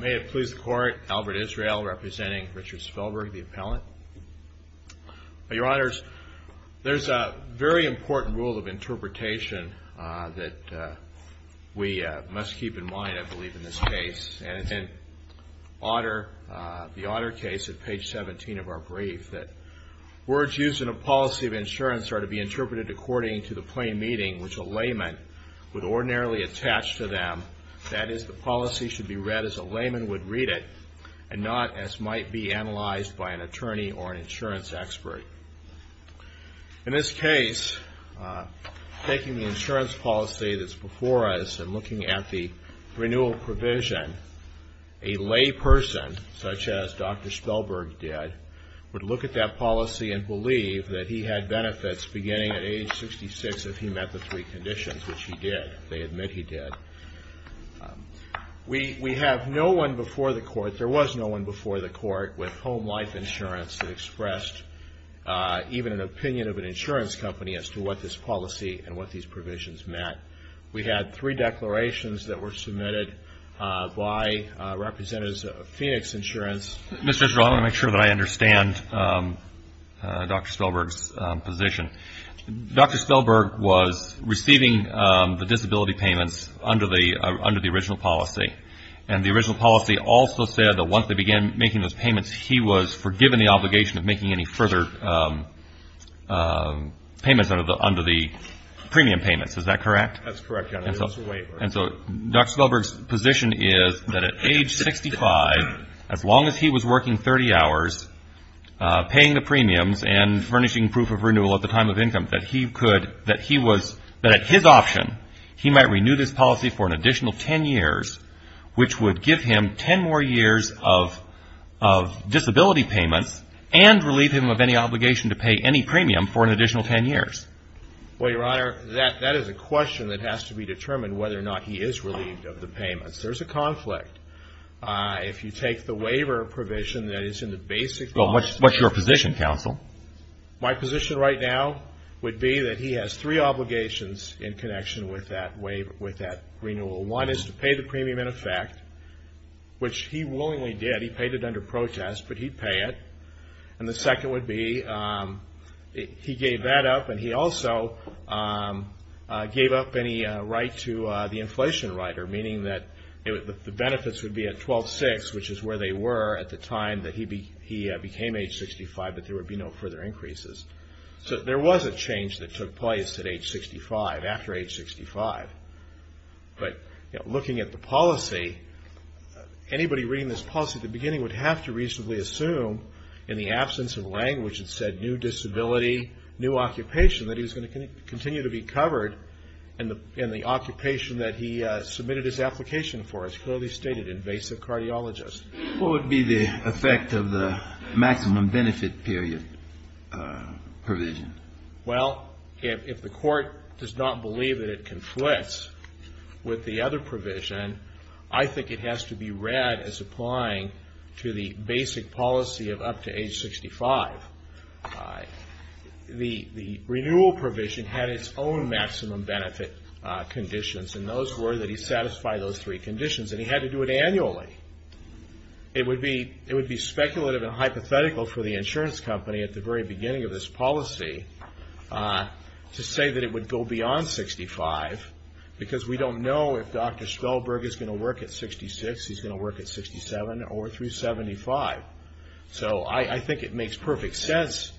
May it please the court, Albert Israel representing Richard Spellberg, the appellant. Your honors, there's a very important rule of interpretation that we must keep in mind, I believe, in this case. And it's in the Otter case at page 17 of our brief that words used in a policy of insurance are to be interpreted according to the plain meaning which a layman would ordinarily attach to them, that is, the policy should be read as a layman would read it, and not as might be analyzed by an attorney or an insurance expert. In this case, taking the insurance policy that's before us and looking at the renewal provision, a lay person, such as Dr. Spellberg did, would look at that policy and believe that he had benefits beginning at age 66 if he met the three conditions, which he did. They admit he did. We have no one before the court, there was no one before the court with home life insurance that expressed even an opinion of an insurance company as to what this policy and what these provisions meant. We had three declarations that were submitted by representatives of Phoenix Insurance. Mr. Israel, I want to make sure that I understand Dr. Spellberg's position. Dr. Spellberg was receiving the disability payments under the original policy, and the original policy also said that once they began making those payments, he was forgiven the obligation of making any further payments under the premium payments. Is that correct? That's correct. And so Dr. Spellberg's position is that at age 65, as long as he was working 30 hours, paying the premiums and furnishing proof of renewal at the time of income, that he could, that he was, that at his option, he might renew this policy for an additional 10 years, which would give him 10 more years of disability payments and relieve him of any obligation to pay any premium for an additional 10 years. Well, Your Honor, that is a question that has to be determined whether or not he is relieved of the payments. There's a conflict. If you take the waiver provision that is in the basic law. Well, what's your position, counsel? My position right now would be that he has three obligations in connection with that renewal. One is to pay the premium in effect, which he willingly did. He paid it under protest, but he'd pay it. And the second would be he gave that up, and he also gave up any right to the inflation rider, meaning that the benefits would be at 12-6, which is where they were at the time that he became age 65, but there would be no further increases. So there was a change that took place at age 65, after age 65. But looking at the policy, anybody reading this policy at the beginning would have to reasonably assume, in the absence of language that said new disability, new occupation, that he was going to continue to be covered in the occupation that he submitted his application for, as clearly stated, invasive cardiologist. What would be the effect of the maximum benefit period provision? Well, if the court does not believe that it conflicts with the other provision, I think it has to be read as applying to the basic policy of up to age 65. The renewal provision had its own maximum benefit conditions, and those were that he satisfy those three conditions, and he had to do it annually. It would be speculative and hypothetical for the insurance company at the very beginning of this policy to say that it would go beyond 65, because we don't know if Dr. Stolberg is going to work at 66, he's going to work at 67, or through 75. So I think it makes perfect sense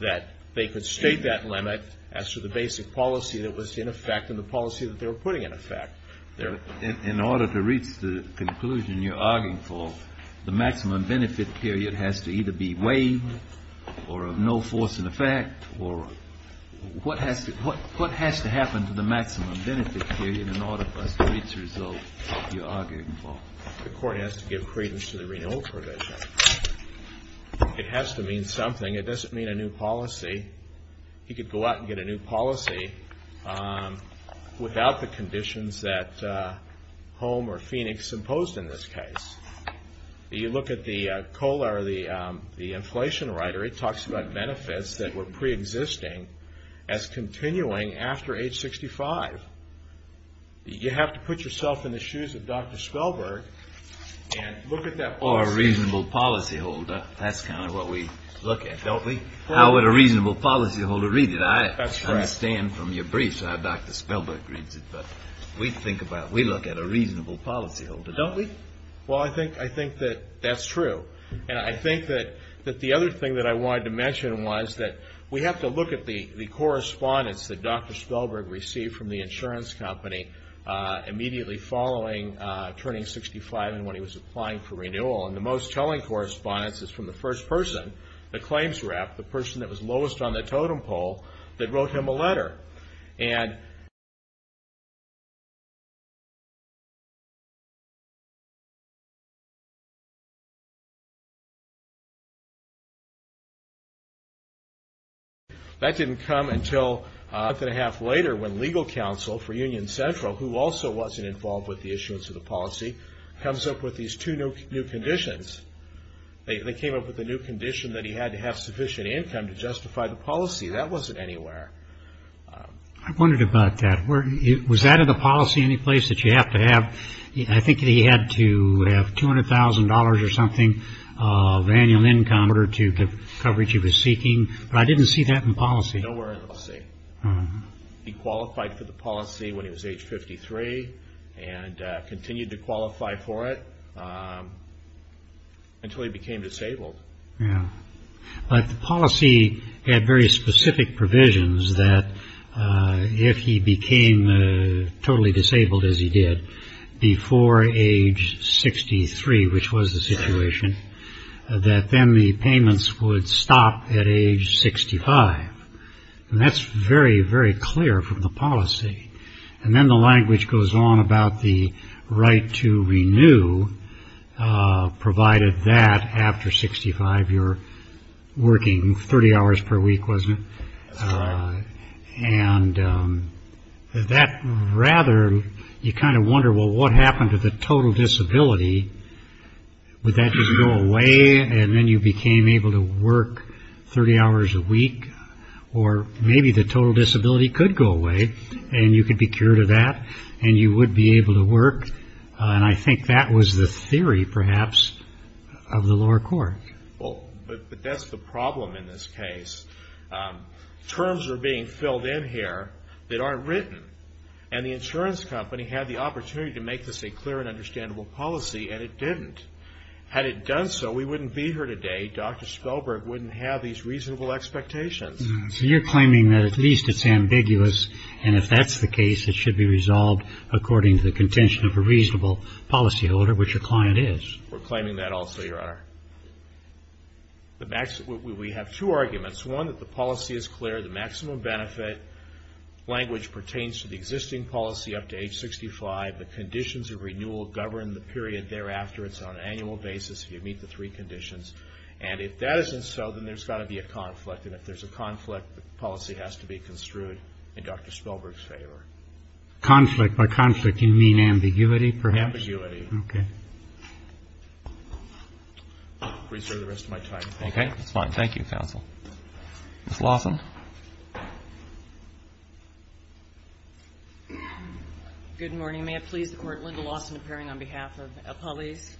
that they could state that limit as to the basic policy that was in effect and the policy that they were putting in effect. In order to reach the conclusion you're arguing for, the maximum benefit period has to either be waived or of no force in effect, or what has to happen to the maximum benefit period in order for us to reach the result you're arguing for? The court has to give credence to the renewal provision. It has to mean something. It doesn't mean a new policy. He could go out and get a new policy without the conditions that Holm or Phoenix imposed in this case. You look at the COLA or the inflation rider, it talks about benefits that were preexisting as continuing after age 65. You have to put yourself in the shoes of Dr. Stolberg and look at that policy. Or a reasonable policyholder. That's kind of what we look at, don't we? How would a reasonable policyholder read it? That's correct. I understand from your briefs how Dr. Stolberg reads it, but we look at a reasonable policyholder, don't we? Well, I think that that's true. And I think that the other thing that I wanted to mention was that we have to look at the correspondence that Dr. Stolberg received from the insurance company immediately following turning 65 and when he was applying for renewal. And the most telling correspondence is from the first person, the claims rep, the person that was lowest on the totem pole, that wrote him a letter. That didn't come until a month and a half later when legal counsel for Union Central, who also wasn't involved with the issuance of the policy, comes up with these two new conditions. They came up with a new condition that he had to have sufficient income to justify the policy. That wasn't anywhere. I wondered about that. Was that in the policy any place that you have to have, I think that he had to have $200,000 or something of annual income in order to cover what he was seeking? But I didn't see that in policy. Nowhere in the policy. He qualified for the policy when he was age 53 and continued to qualify for it until he became disabled. Yeah. But the policy had very specific provisions that if he became totally disabled, as he did, before age 63, which was the situation, that then the payments would stop at age 65. And that's very, very clear from the policy. And then the language goes on about the right to renew, provided that after 65 you're working 30 hours per week, wasn't it? That's right. I wonder, well, what happened to the total disability? Would that just go away and then you became able to work 30 hours a week? Or maybe the total disability could go away and you could be cured of that and you would be able to work. And I think that was the theory, perhaps, of the lower court. But that's the problem in this case. Terms are being filled in here that aren't written. And the insurance company had the opportunity to make this a clear and understandable policy, and it didn't. Had it done so, we wouldn't be here today. Dr. Spellberg wouldn't have these reasonable expectations. So you're claiming that at least it's ambiguous, and if that's the case, it should be resolved according to the contention of a reasonable policyholder, which your client is. We're claiming that also, Your Honor. We have two arguments. One, that the policy is clear. The maximum benefit language pertains to the existing policy up to age 65. The conditions of renewal govern the period thereafter. It's on an annual basis if you meet the three conditions. And if that isn't so, then there's got to be a conflict. And if there's a conflict, the policy has to be construed in Dr. Spellberg's favor. Conflict by conflict. You mean ambiguity, perhaps? Ambiguity. Okay. Please serve the rest of my time. Okay. That's fine. Thank you, counsel. Ms. Lawson. Good morning. May it please the Court, Linda Lawson appearing on behalf of El Polis.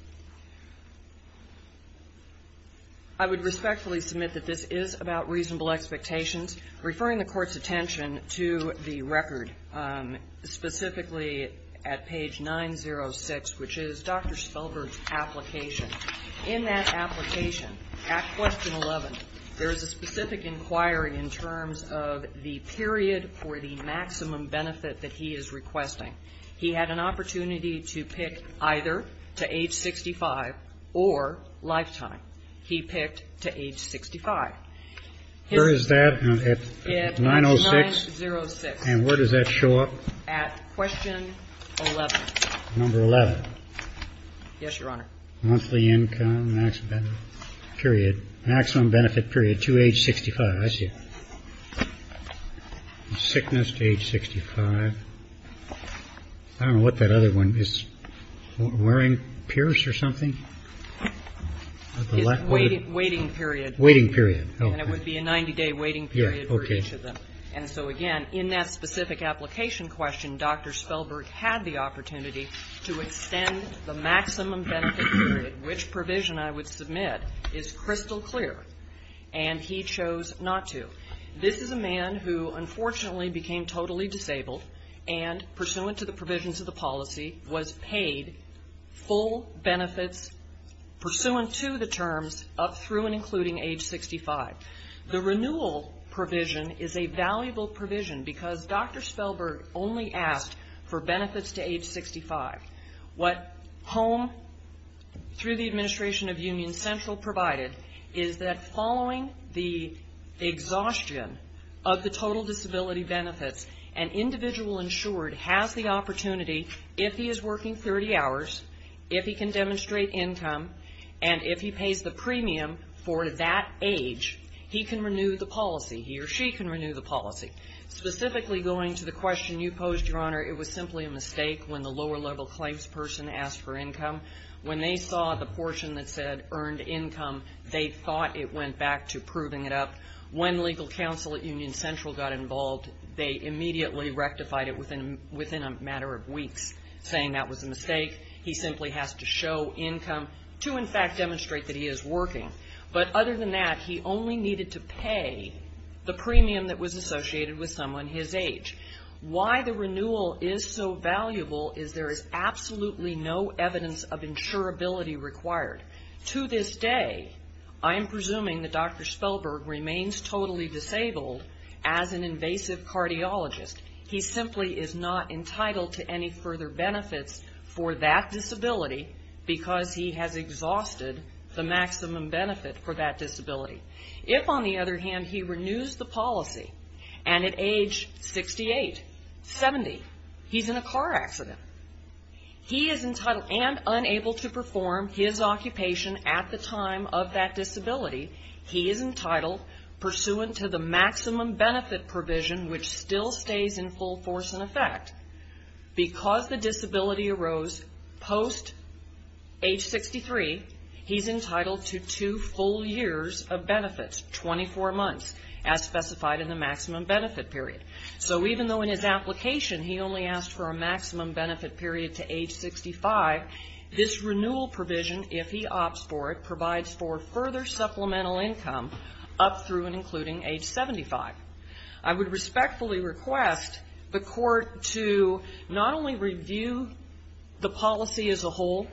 I would respectfully submit that this is about reasonable expectations. Referring the Court's attention to the record, specifically at page 906, which is Dr. Spellberg's application. In that application, at question 11, there is a specific inquiry in terms of the period for the maximum benefit that he is requesting. He had an opportunity to pick either to age 65 or lifetime. He picked to age 65. Where is that at 906? At 906. And where does that show up? At question 11. Number 11. Yes, Your Honor. Monthly income, maximum benefit period to age 65. I see it. Sickness to age 65. I don't know what that other one is. Wearing a pierce or something? Waiting period. Waiting period. And it would be a 90-day waiting period for each of them. And so, again, in that specific application question, Dr. Spellberg had the opportunity to extend the maximum benefit period. Which provision I would submit is crystal clear. And he chose not to. This is a man who, unfortunately, became totally disabled and, pursuant to the provisions of the policy, was paid full benefits pursuant to the terms up through and including age 65. The renewal provision is a valuable provision because Dr. Spellberg only asked for benefits to age 65. What HOME, through the administration of Union Central provided, is that following the exhaustion of the total disability benefits, an individual insured has the opportunity, if he is working 30 hours, if he can demonstrate income, and if he pays the premium for that age, he can renew the policy. He or she can renew the policy. Specifically going to the question you posed, Your Honor, it was simply a mistake when the lower-level claims person asked for income. When they saw the portion that said earned income, they thought it went back to proving it up. When legal counsel at Union Central got involved, they immediately rectified it within a matter of weeks, saying that was a mistake. He simply has to show income to, in fact, demonstrate that he is working. But other than that, he only needed to pay the premium that was associated with someone his age. Why the renewal is so valuable is there is absolutely no evidence of insurability required. To this day, I am presuming that Dr. Spellberg remains totally disabled as an invasive cardiologist. He simply is not entitled to any further benefits for that disability because he has exhausted the maximum benefit for that disability. If, on the other hand, he renews the policy and at age 68, 70, he's in a car accident, he is entitled and unable to perform his occupation at the time of that disability, he is entitled, pursuant to the maximum benefit provision, which still stays in full force in effect. Because the disability arose post age 63, he's entitled to two full years of benefits, 24 months, as specified in the maximum benefit period. So even though in his application he only asked for a maximum benefit period to age 65, this renewal provision, if he opts for it, provides for further supplemental income up through and including age 75. I would respectfully request the court to not only review the policy as a whole,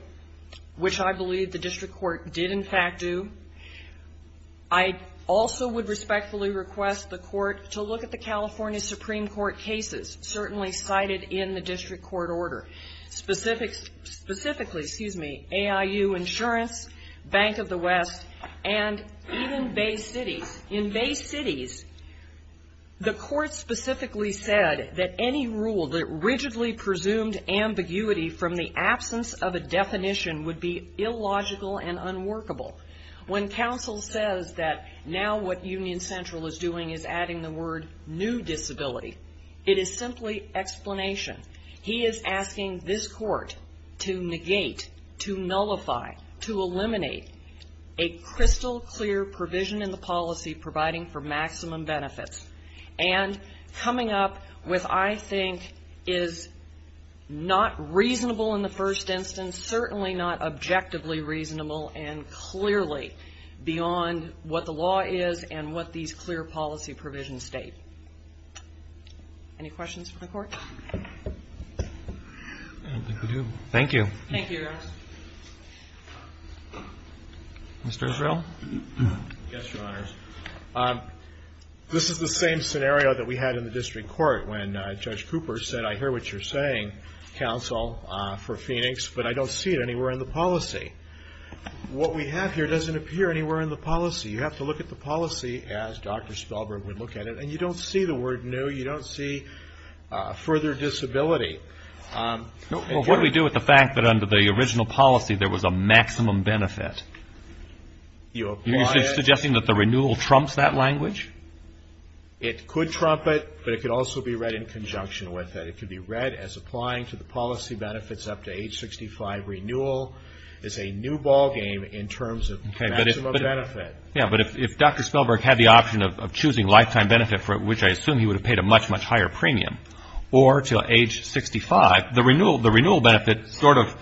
which I believe the district court did, in fact, do. I also would respectfully request the court to look at the California Supreme Court cases, certainly cited in the district court order, specifically, excuse me, AIU Insurance, Bank of the West, and even Bay Cities. In Bay Cities, the court specifically said that any rule that rigidly presumed ambiguity from the absence of a definition would be illogical and unworkable. When counsel says that now what Union Central is doing is adding the word new disability, it is simply explanation. He is asking this court to negate, to nullify, to eliminate a crystal clear provision in the policy providing for maximum benefits. And coming up with, I think, is not reasonable in the first instance, certainly not objectively reasonable and clearly beyond what the law is and what these clear policy provisions state. Any questions from the court? I don't think we do. Thank you. Thank you, Your Honor. Mr. Israel? Yes, Your Honors. This is the same scenario that we had in the district court when Judge Cooper said, I hear what you're saying, counsel, for Phoenix, but I don't see it anywhere in the policy. What we have here doesn't appear anywhere in the policy. You have to look at the policy as Dr. Spellberg would look at it, and you don't see the word new. You don't see further disability. What do we do with the fact that under the original policy there was a maximum benefit? You apply it. Are you suggesting that the renewal trumps that language? It could trump it, but it could also be read in conjunction with it. It could be read as applying to the policy benefits up to age 65. It's a new ballgame in terms of maximum benefit. But if Dr. Spellberg had the option of choosing lifetime benefit, which I assume he would have paid a much, much higher premium, or to age 65, the renewal benefit sort of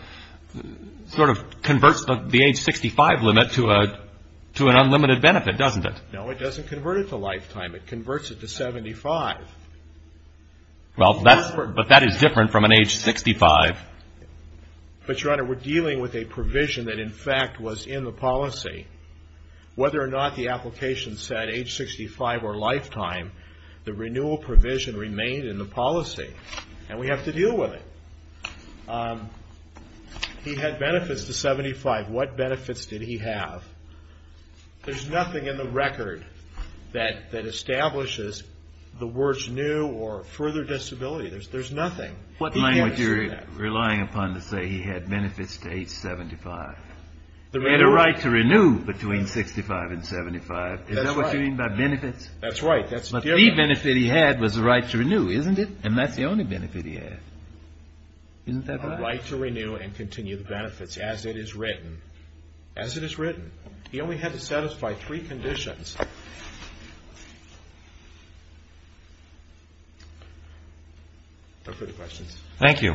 converts the age 65 limit to an unlimited benefit, doesn't it? No, it doesn't convert it to lifetime. It converts it to 75. But that is different from an age 65. But, Your Honor, we're dealing with a provision that, in fact, was in the policy. Whether or not the application said age 65 or lifetime, the renewal provision remained in the policy, and we have to deal with it. He had benefits to 75. What benefits did he have? There's nothing in the record that establishes the words new or further disability. There's nothing. What language are you relying upon to say he had benefits to age 75? He had a right to renew between 65 and 75. That's right. Is that what you mean by benefits? That's right. That's the difference. But the benefit he had was the right to renew, isn't it? And that's the only benefit he had. Isn't that right? A right to renew and continue the benefits as it is written. As it is written. He only had to satisfy three conditions. Those are the questions. Thank you.